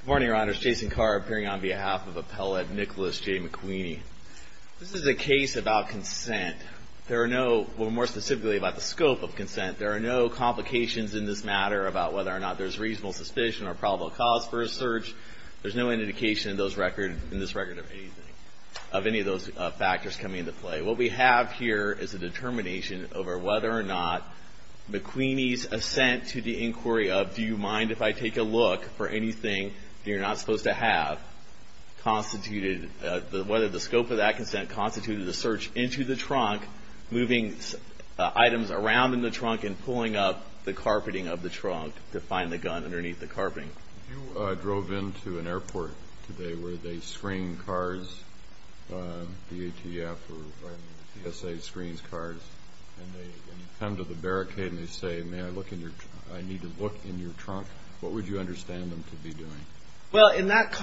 Good morning, Your Honors. Jason Carr appearing on behalf of Appellate Nicholas J. McWeeney. This is a case about consent. There are no, well, more specifically about the scope of consent. There are no complications in this matter about whether or not there's reasonable suspicion or probable cause for a search. There's no indication in this record of anything, of any of those factors coming into play. What we have here is a determination over whether or not McWeeney's assent to the inquiry of do you mind if I take a look for anything that you're not supposed to have, constituted, whether the scope of that consent constituted a search into the trunk, moving items around in the trunk, and pulling up the carpeting of the trunk to find the gun underneath the carpeting. You drove into an airport today where they screen cars, DATF or DSA screens cars, and you come to the barricade and they say, may I look in your, I need to look in your trunk, what would you understand them to be doing? Well, in that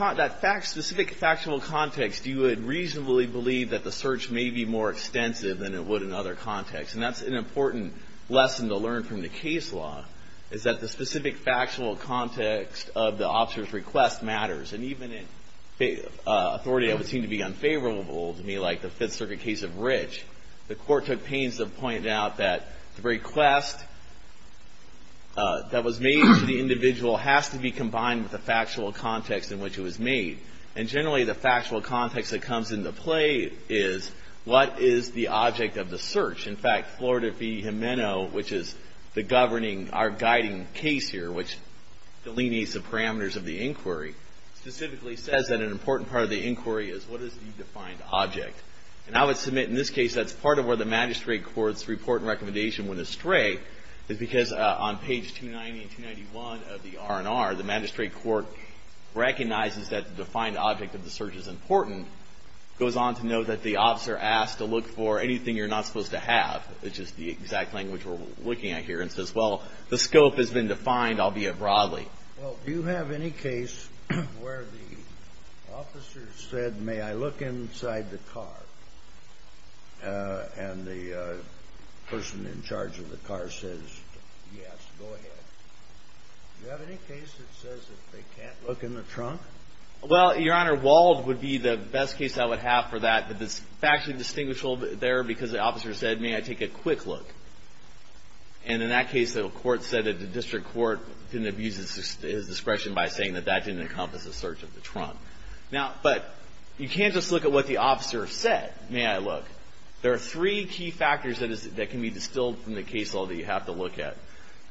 specific factional context, you would reasonably believe that the search may be more extensive than it would in other contexts. And that's an important lesson to learn from the case law, is that the specific factional context of the officer's request matters. And even in authority that would seem to be unfavorable to me, like the Fifth Circuit case of Rich, the court took pains to point out that the request that was made to the individual has to be combined with the factual context in which it was made. And generally the factual context that comes into play is what is the object of the search? In fact, Florida v. Jimeno, which is the governing, our guiding case here, which delineates the parameters of the inquiry, specifically says that an important part of the inquiry is what is the defined object? And I would submit in this case that's part of where the magistrate court's report and recommendation went astray, is because on page 290 and 291 of the R&R, the magistrate court recognizes that the defined object of the search is important, goes on to note that the officer asked to look for anything you're not supposed to have, which is the exact language we're looking at here, and says, well, the scope has been defined, albeit broadly. Well, do you have any case where the officer said, may I look inside the car, and the person in charge of the car says, yes, go ahead? Do you have any case that says that they can't look in the trunk? Well, Your Honor, Wald would be the best case I would have for that. It's actually distinguishable there because the officer said, may I take a quick look? And in that case, the court said that the district court didn't abuse his discretion by saying that that didn't encompass the search of the trunk. Now, but you can't just look at what the officer said, may I look. There are three key factors that can be distilled from the case law that you have to look at.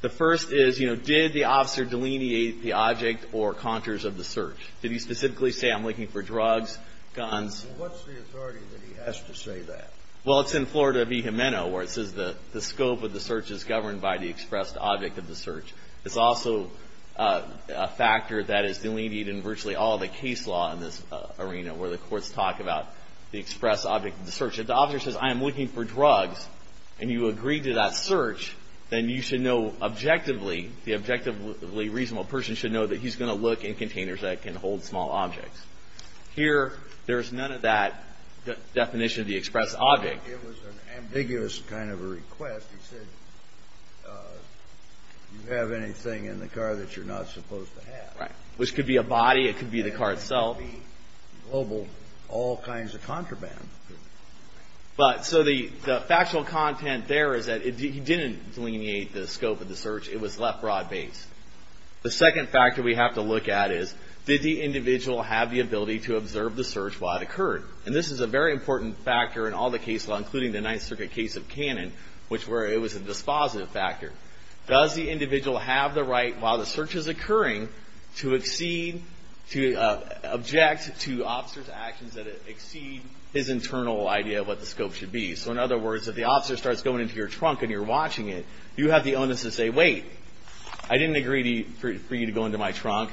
The first is, you know, did the officer delineate the object or contours of the search? Did he specifically say, I'm looking for drugs, guns? What's the authority that he has to say that? Well, it's in Florida v. Jimeno, where it says the scope of the search is governed by the expressed object of the search. It's also a factor that is delineated in virtually all the case law in this arena, where the courts talk about the expressed object of the search. If the officer says, I am looking for drugs, and you agree to that search, then you should know objectively, the objectively reasonable person should know that he's going to look in containers that can hold small objects. Here, there's none of that definition of the expressed object. It was an ambiguous kind of a request. He said, do you have anything in the car that you're not supposed to have? Which could be a body. It could be the car itself. So the factual content there is that he didn't delineate the scope of the search. It was left broad-based. The second factor we have to look at is, did the individual have the ability to observe the search while it occurred? And this is a very important factor in all the case law, including the Ninth Circuit case of Cannon, where it was a dispositive factor. Does the individual have the right, while the search is occurring, to object to officers' actions that exceed his internal idea of what the scope should be? So in other words, if the officer starts going into your trunk and you're watching it, you have the onus to say, wait, I didn't agree for you to go into my trunk.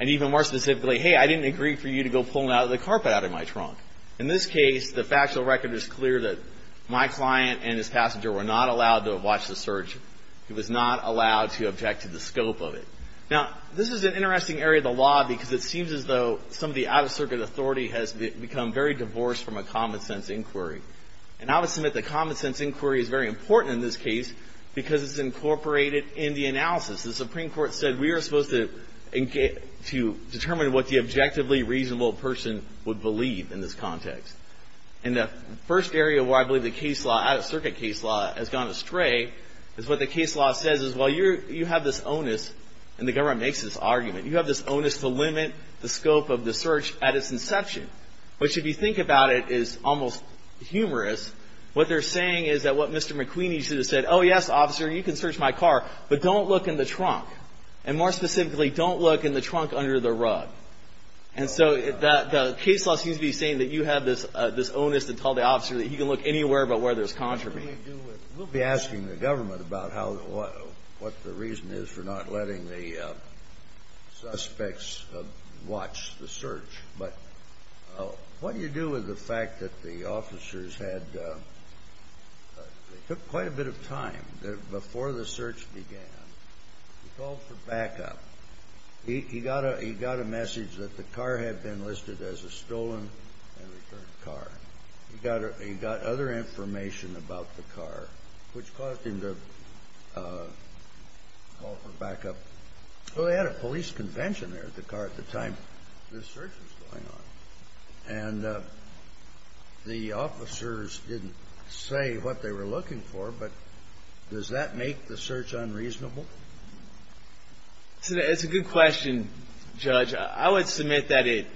And even more specifically, hey, I didn't agree for you to go pull the carpet out of my trunk. In this case, the factual record is clear that my client and his passenger were not allowed to have watched the search. He was not allowed to object to the scope of it. Now, this is an interesting area of the law because it seems as though some of the out-of-circuit authority has become very divorced from a common-sense inquiry. And I would submit that common-sense inquiry is very important in this case because it's incorporated in the analysis. The Supreme Court said we are supposed to determine what the objectively reasonable person would believe in this context. And the first area where I believe the case law, out-of-circuit case law, has gone astray is what the case law says is, well, you have this onus, and the government makes this argument, you have this onus to limit the scope of the search at its inception, which, if you think about it, is almost humorous. What they're saying is that what Mr. McQueeny should have said, oh, yes, officer, you can search my car, but don't look in the trunk. And more specifically, don't look in the trunk under the rug. And so the case law seems to be saying that you have this onus to tell the officer that he can look anywhere but where there's contraband. We'll be asking the government about what the reason is for not letting the suspects watch the search. But what do you do with the fact that the officers had took quite a bit of time before the search began. He called for backup. He got a message that the car had been listed as a stolen and returned car. He got other information about the car, which caused him to call for backup. Well, they had a police convention there at the car at the time this search was going on. And the officers didn't say what they were looking for, but does that make the search unreasonable? It's a good question, Judge. I would submit that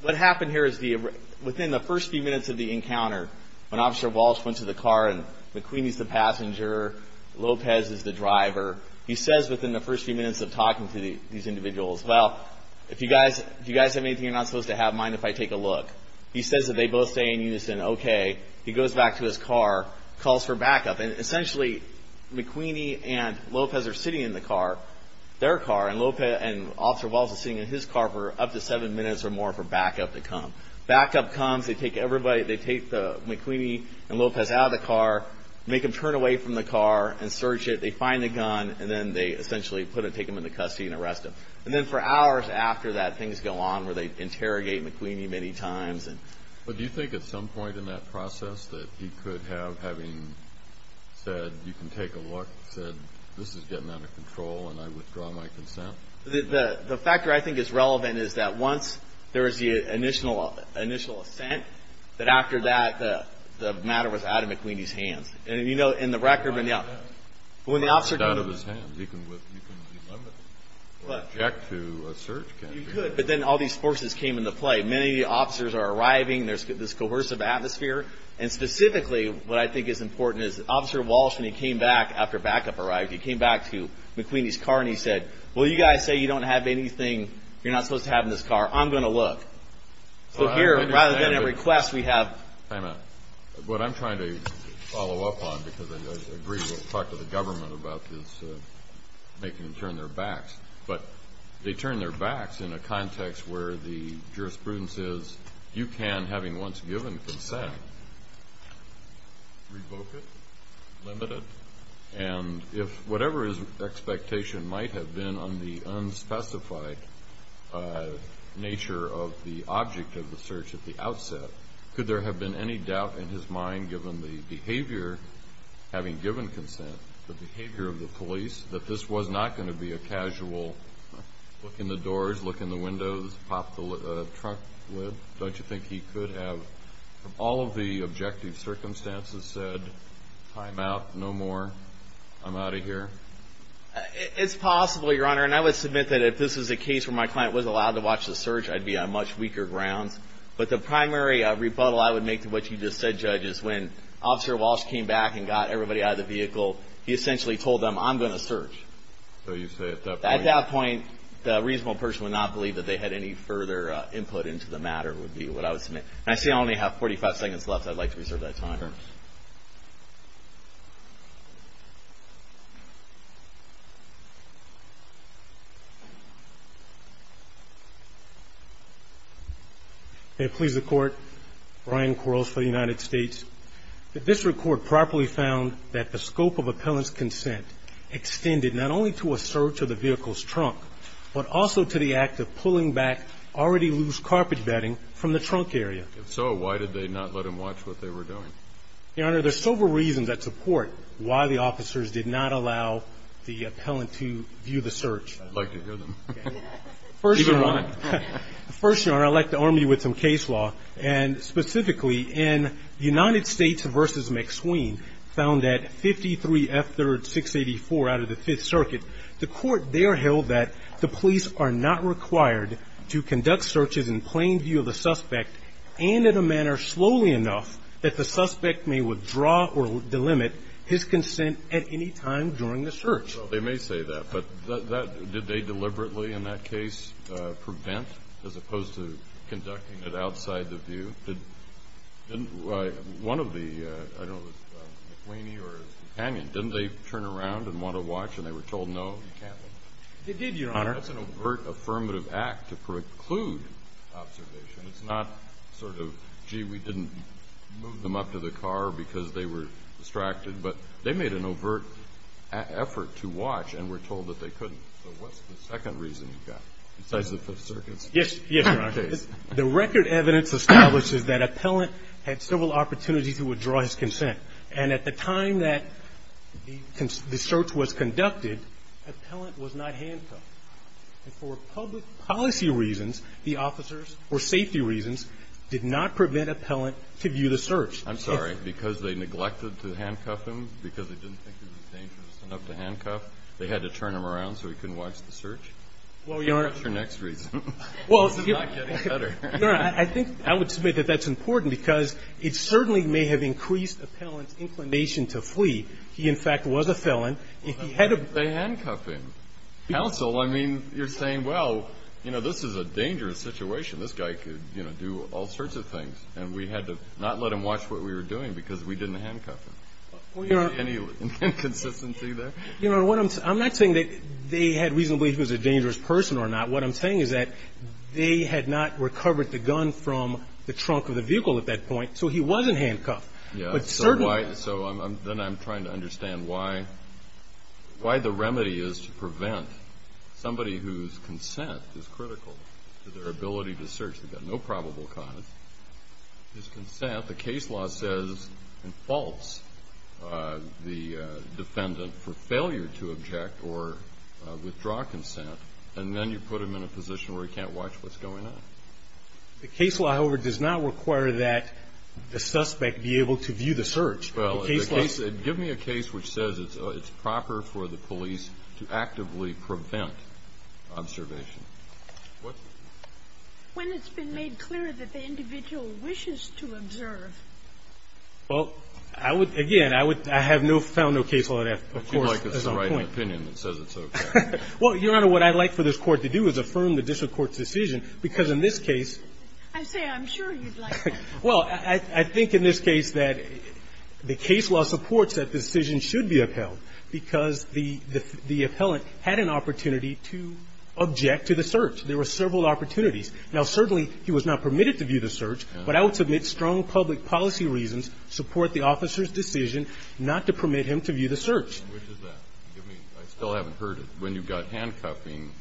what happened here is within the first few minutes of the encounter, when Officer Walsh went to the car and McQueen is the passenger, Lopez is the driver, he says within the first few minutes of talking to these individuals, well, if you guys have anything you're not supposed to have, mind if I take a look. He says that they both say in unison, okay. He goes back to his car, calls for backup. And essentially McQueen and Lopez are sitting in the car, their car, and Officer Walsh is sitting in his car for up to seven minutes or more for backup to come. Backup comes. They take McQueen and Lopez out of the car, make them turn away from the car and search it. They find the gun and then they essentially take them into custody and arrest them. And then for hours after that, things go on where they interrogate McQueen many times. But do you think at some point in that process that he could have, having said you can take a look, said this is getting out of control and I withdraw my consent? The factor I think is relevant is that once there is the initial assent, that after that the matter was out of McQueen's hands. It's not out of his hands. You can delimit it or object to a search campaign. You could, but then all these forces came into play. Many officers are arriving, there's this coercive atmosphere, and specifically what I think is important is Officer Walsh, when he came back after backup arrived, he came back to McQueen's car and he said, well, you guys say you don't have anything you're not supposed to have in this car. I'm going to look. What I'm trying to follow up on, because I agree with what we talked to the government about, is making them turn their backs. But they turn their backs in a context where the jurisprudence is you can, having once given consent, revoke it, limit it, and if whatever his expectation might have been on the unspecified nature of the object of the search at the outset, could there have been any doubt in his mind given the behavior, having given consent, the behavior of the police, that this was not going to be a casual look in the doors, look in the windows, pop the trunk lid? Don't you think he could have, from all of the objective circumstances, said, time out, no more, I'm out of here? It's possible, Your Honor, and I would submit that if this was a case where my client was allowed to watch the search, I'd be on much weaker grounds. But the primary rebuttal I would make to what you just said, Judge, is when Officer Walsh came back and got everybody out of the vehicle, he essentially told them, I'm going to search. At that point, the reasonable person would not believe that they had any further input into the matter would be what I would submit. I see I only have 45 seconds left. May it please the Court, Brian Quarles for the United States, that this record properly found that the scope of appellant's consent extended not only to a search of the vehicle's trunk, but also to the act of pulling back already loose carpet bedding from the trunk area. If so, why did they not let him watch what they were doing? Your Honor, there are several reasons that support why the officers did not allow the appellant to view the search. I'd like to hear them. First, Your Honor, I'd like to arm you with some case law. Specifically, in United States v. McSween, found at 53F3-684 out of the Fifth Circuit, the Court there held that the police are not required to conduct searches in plain view of the suspect and in a manner slowly enough that the suspect may withdraw or delimit his consent at any time during the search. Well, they may say that, but did they deliberately in that case prevent, as opposed to conducting it outside the view? One of the, I don't know, McSweeny or companion, didn't they turn around and want to watch and they were told no? They did, Your Honor. That's an overt affirmative act to preclude observation. It's not sort of, gee, we didn't move them up to the car because they were distracted, but they made an overt effort to watch and were told that they couldn't. So what's the second reason you've got, besides the Fifth Circuit's case? Yes, Your Honor. The record evidence establishes that appellant had several opportunities to withdraw his consent. And at the time that the search was conducted, appellant was not handcuffed. And for public policy reasons, the officers, or safety reasons, did not prevent appellant to view the search. I'm sorry, because they neglected to handcuff him, because they didn't think he was dangerous enough to handcuff, they had to turn him around so he couldn't watch the search? Well, Your Honor. What's your next reason? Well, Your Honor, I think, I would submit that that's important, because it certainly may have increased appellant's inclination to flee. He, in fact, was a felon. They handcuffed him. Counsel, I mean, you're saying, well, you know, this is a dangerous situation. This guy could, you know, do all sorts of things. And we had to not let him watch what we were doing, because we didn't handcuff him. Any inconsistency there? Your Honor, I'm not saying that they had reason to believe he was a dangerous person or not. What I'm saying is that they had not recovered the gun from the trunk of the vehicle at that point, so he wasn't handcuffed. But certainly. So then I'm trying to understand why the remedy is to prevent somebody whose consent is critical to their ability to search, because they've got no probable cause. His consent, the case law says, involves the defendant for failure to object or withdraw consent, and then you put him in a position where he can't watch what's going on. The case law, however, does not require that the suspect be able to view the search. Well, the case law. Give me a case which says it's proper for the police to actively prevent observation. When it's been made clear that the individual wishes to observe. Well, I would, again, I would, I have found no case law that, of course, is on point. It seems like it's the right opinion that says it's okay. Well, Your Honor, what I'd like for this Court to do is affirm the district court's decision, because in this case. I say I'm sure you'd like that. Well, I think in this case that the case law supports that decision should be upheld, because the appellant had an opportunity to object to the search. There were several opportunities. Now, certainly he was not permitted to view the search, but I would submit strong public policy reasons support the officer's decision not to permit him to view the search. Which is that? I mean, I still haven't heard it. When you've got handcuffing,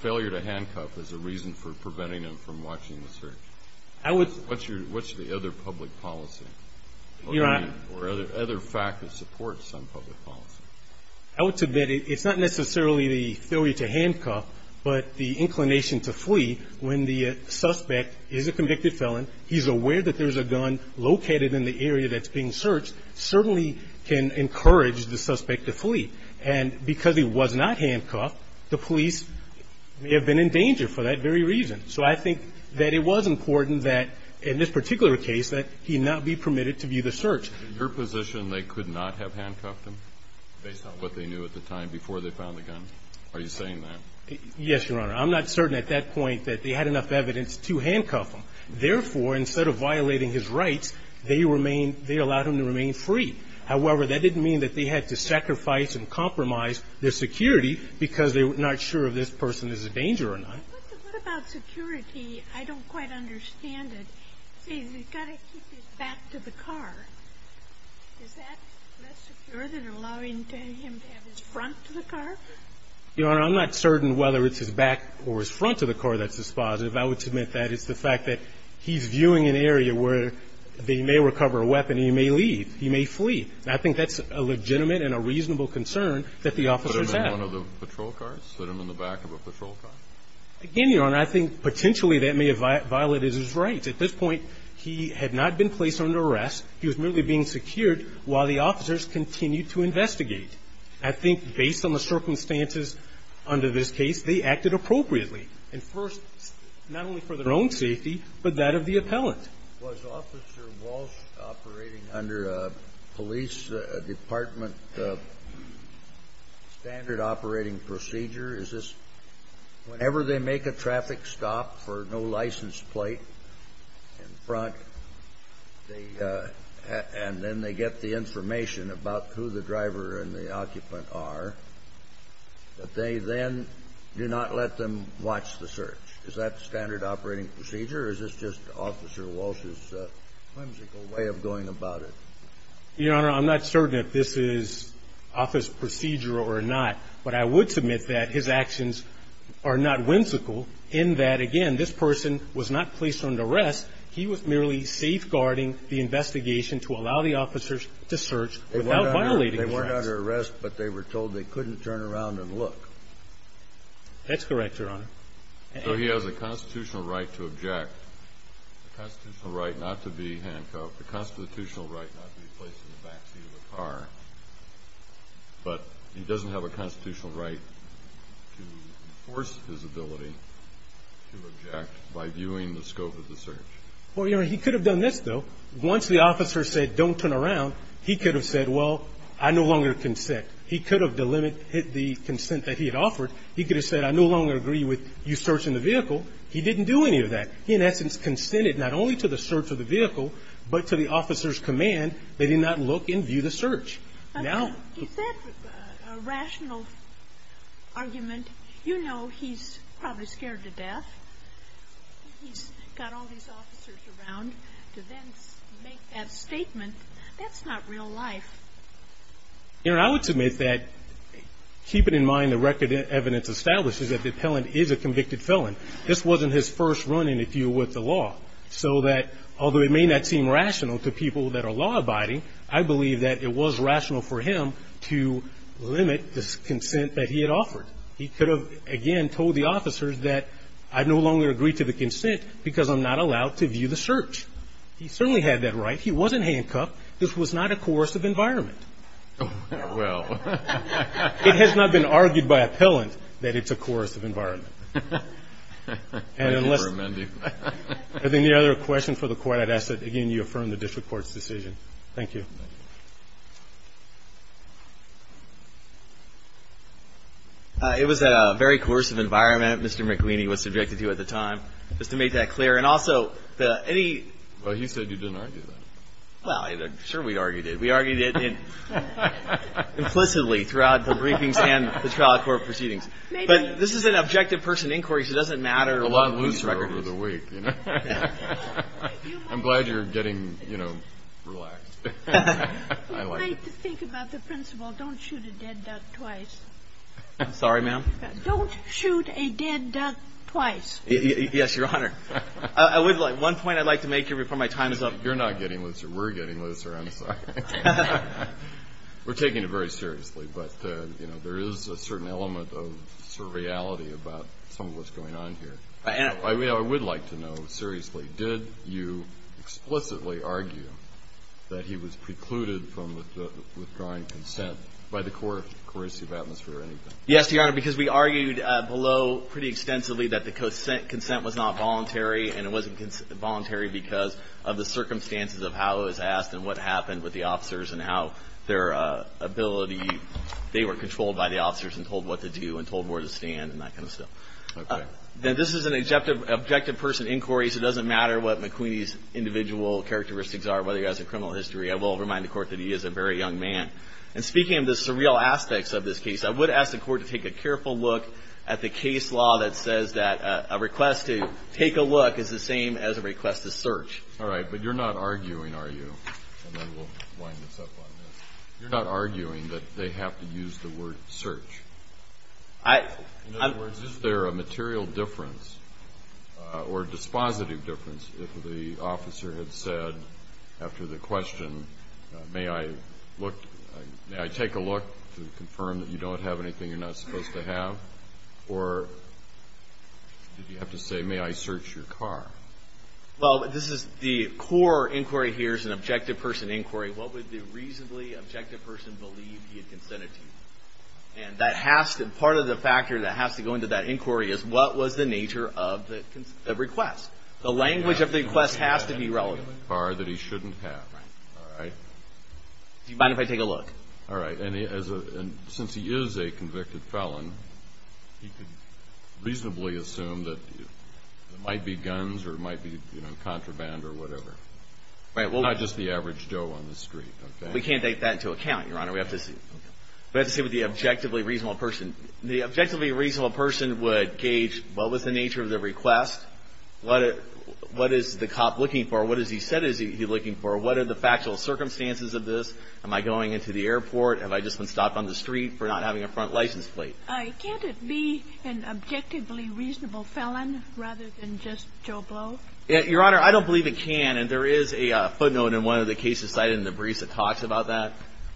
failure to handcuff is a reason for preventing him from watching the search. I would. What's your, what's the other public policy? Your Honor. Or other facts that support some public policy. I would submit it's not necessarily the failure to handcuff, but the inclination to flee. When the suspect is a convicted felon, he's aware that there's a gun located in the area that's being searched, certainly can encourage the suspect to flee. And because he was not handcuffed, the police may have been in danger for that very reason. So I think that it was important that, in this particular case, that he not be permitted to view the search. Is it your position they could not have handcuffed him, based on what they knew at the time before they found the gun? Are you saying that? Yes, Your Honor. I'm not certain at that point that they had enough evidence to handcuff him. Therefore, instead of violating his rights, they allowed him to remain free. However, that didn't mean that they had to sacrifice and compromise their security, because they were not sure if this person is a danger or not. But what about security? I don't quite understand it. He's got to keep his back to the car. Is that less secure than allowing him to have his front to the car? Your Honor, I'm not certain whether it's his back or his front to the car that's dispositive. I would submit that it's the fact that he's viewing an area where they may recover a weapon. He may leave. He may flee. I think that's a legitimate and a reasonable concern that the officers have. And one of the patrol cars? Put him in the back of a patrol car? Again, Your Honor, I think potentially that may have violated his rights. At this point, he had not been placed under arrest. He was merely being secured while the officers continued to investigate. I think based on the circumstances under this case, they acted appropriately. And first, not only for their own safety, but that of the appellant. Was Officer Walsh operating under a police department standard operating procedure? Is this whenever they make a traffic stop for no license plate in front, and then they get the information about who the driver and the occupant are, that they then do not let them watch the search? Is that standard operating procedure? Or is this just Officer Walsh's whimsical way of going about it? Your Honor, I'm not certain if this is office procedure or not. But I would submit that his actions are not whimsical in that, again, this person was not placed under arrest. He was merely safeguarding the investigation to allow the officers to search without violating his rights. They weren't under arrest, but they were told they couldn't turn around and look. That's correct, Your Honor. So he has a constitutional right to object, a constitutional right not to be handcuffed, a constitutional right not to be placed in the back seat of a car. But he doesn't have a constitutional right to enforce his ability to object by viewing the scope of the search. Well, Your Honor, he could have done this, though. Once the officer said, don't turn around, he could have said, well, I no longer consent. He could have delimited the consent that he had offered. He could have said, I no longer agree with you searching the vehicle. He didn't do any of that. He, in essence, consented not only to the search of the vehicle but to the officer's command that he not look and view the search. Is that a rational argument? You know he's probably scared to death. He's got all these officers around to then make that statement. That's not real life. Your Honor, I would submit that keeping in mind the record evidence establishes that the appellant is a convicted felon, this wasn't his first run in a deal with the law. So that although it may not seem rational to people that are law-abiding, I believe that it was rational for him to limit the consent that he had offered. He could have, again, told the officers that I no longer agree to the consent because I'm not allowed to view the search. He certainly had that right. He wasn't handcuffed. This was not a coercive environment. Well. It has not been argued by appellant that it's a coercive environment. Thank you for amending. If there's any other questions for the Court, I'd ask that, again, you affirm the district court's decision. Thank you. It was a very coercive environment, Mr. McQueen. He was subjected to at the time. Just to make that clear. And also, any. Well, he said you didn't argue that. Well, sure we argued it. We argued it implicitly throughout the briefings and the trial court proceedings. Maybe. But this is an objective person inquiry, so it doesn't matter. A lot looser over the week, you know. I'm glad you're getting, you know, relaxed. I like it. You might think about the principle don't shoot a dead duck twice. Sorry, ma'am? Don't shoot a dead duck twice. Yes, Your Honor. I would like one point I'd like to make before my time is up. You're not getting looser. We're getting looser. I'm sorry. We're taking it very seriously, but, you know, there is a certain element of surreality about some of what's going on here. I would like to know, seriously, did you explicitly argue that he was precluded from withdrawing consent by the coercive atmosphere or anything? Yes, Your Honor, because we argued below pretty extensively that the consent was not voluntary, and it wasn't voluntary because of the circumstances of how it was asked and what happened with the officers and how their ability, they were controlled by the officers and told what to do and told where to stand and that kind of stuff. Okay. This is an objective person inquiry, so it doesn't matter what McQueen's individual characteristics are, whether he has a criminal history. I will remind the Court that he is a very young man. And speaking of the surreal aspects of this case, I would ask the Court to take a careful look at the case law that says that a request to take a look is the same as a request to search. All right, but you're not arguing, are you? And then we'll wind this up on this. You're not arguing that they have to use the word search? In other words, is there a material difference or dispositive difference if the officer had said, after the question, may I take a look to confirm that you don't have anything you're not supposed to have? Or did you have to say, may I search your car? Well, this is the core inquiry here is an objective person inquiry. What would the reasonably objective person believe he had consented to? And part of the factor that has to go into that inquiry is what was the nature of the request? The language of the request has to be relevant. Car that he shouldn't have. Right. All right. Do you mind if I take a look? All right. And since he is a convicted felon, he could reasonably assume that it might be guns or it might be contraband or whatever. Not just the average Joe on the street. We can't take that into account, Your Honor. We have to see what the objectively reasonable person. The objectively reasonable person would gauge what was the nature of the request? What is the cop looking for? What is he said he's looking for? What are the factual circumstances of this? Am I going into the airport? Have I just been stopped on the street for not having a front license plate? Can't it be an objectively reasonable felon rather than just Joe Blow? Your Honor, I don't believe it can. And there is a footnote in one of the cases cited in the briefs that talks about that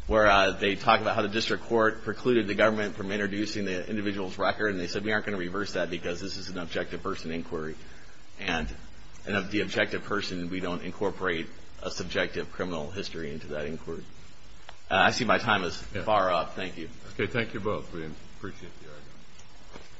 where they talk about how the district court precluded the government from introducing the individual's record. And they said we aren't going to reverse that because this is an objective person inquiry. And of the objective person, we don't incorporate a subjective criminal history into that inquiry. I see my time is far up. Thank you. Okay, thank you both. We appreciate the argument.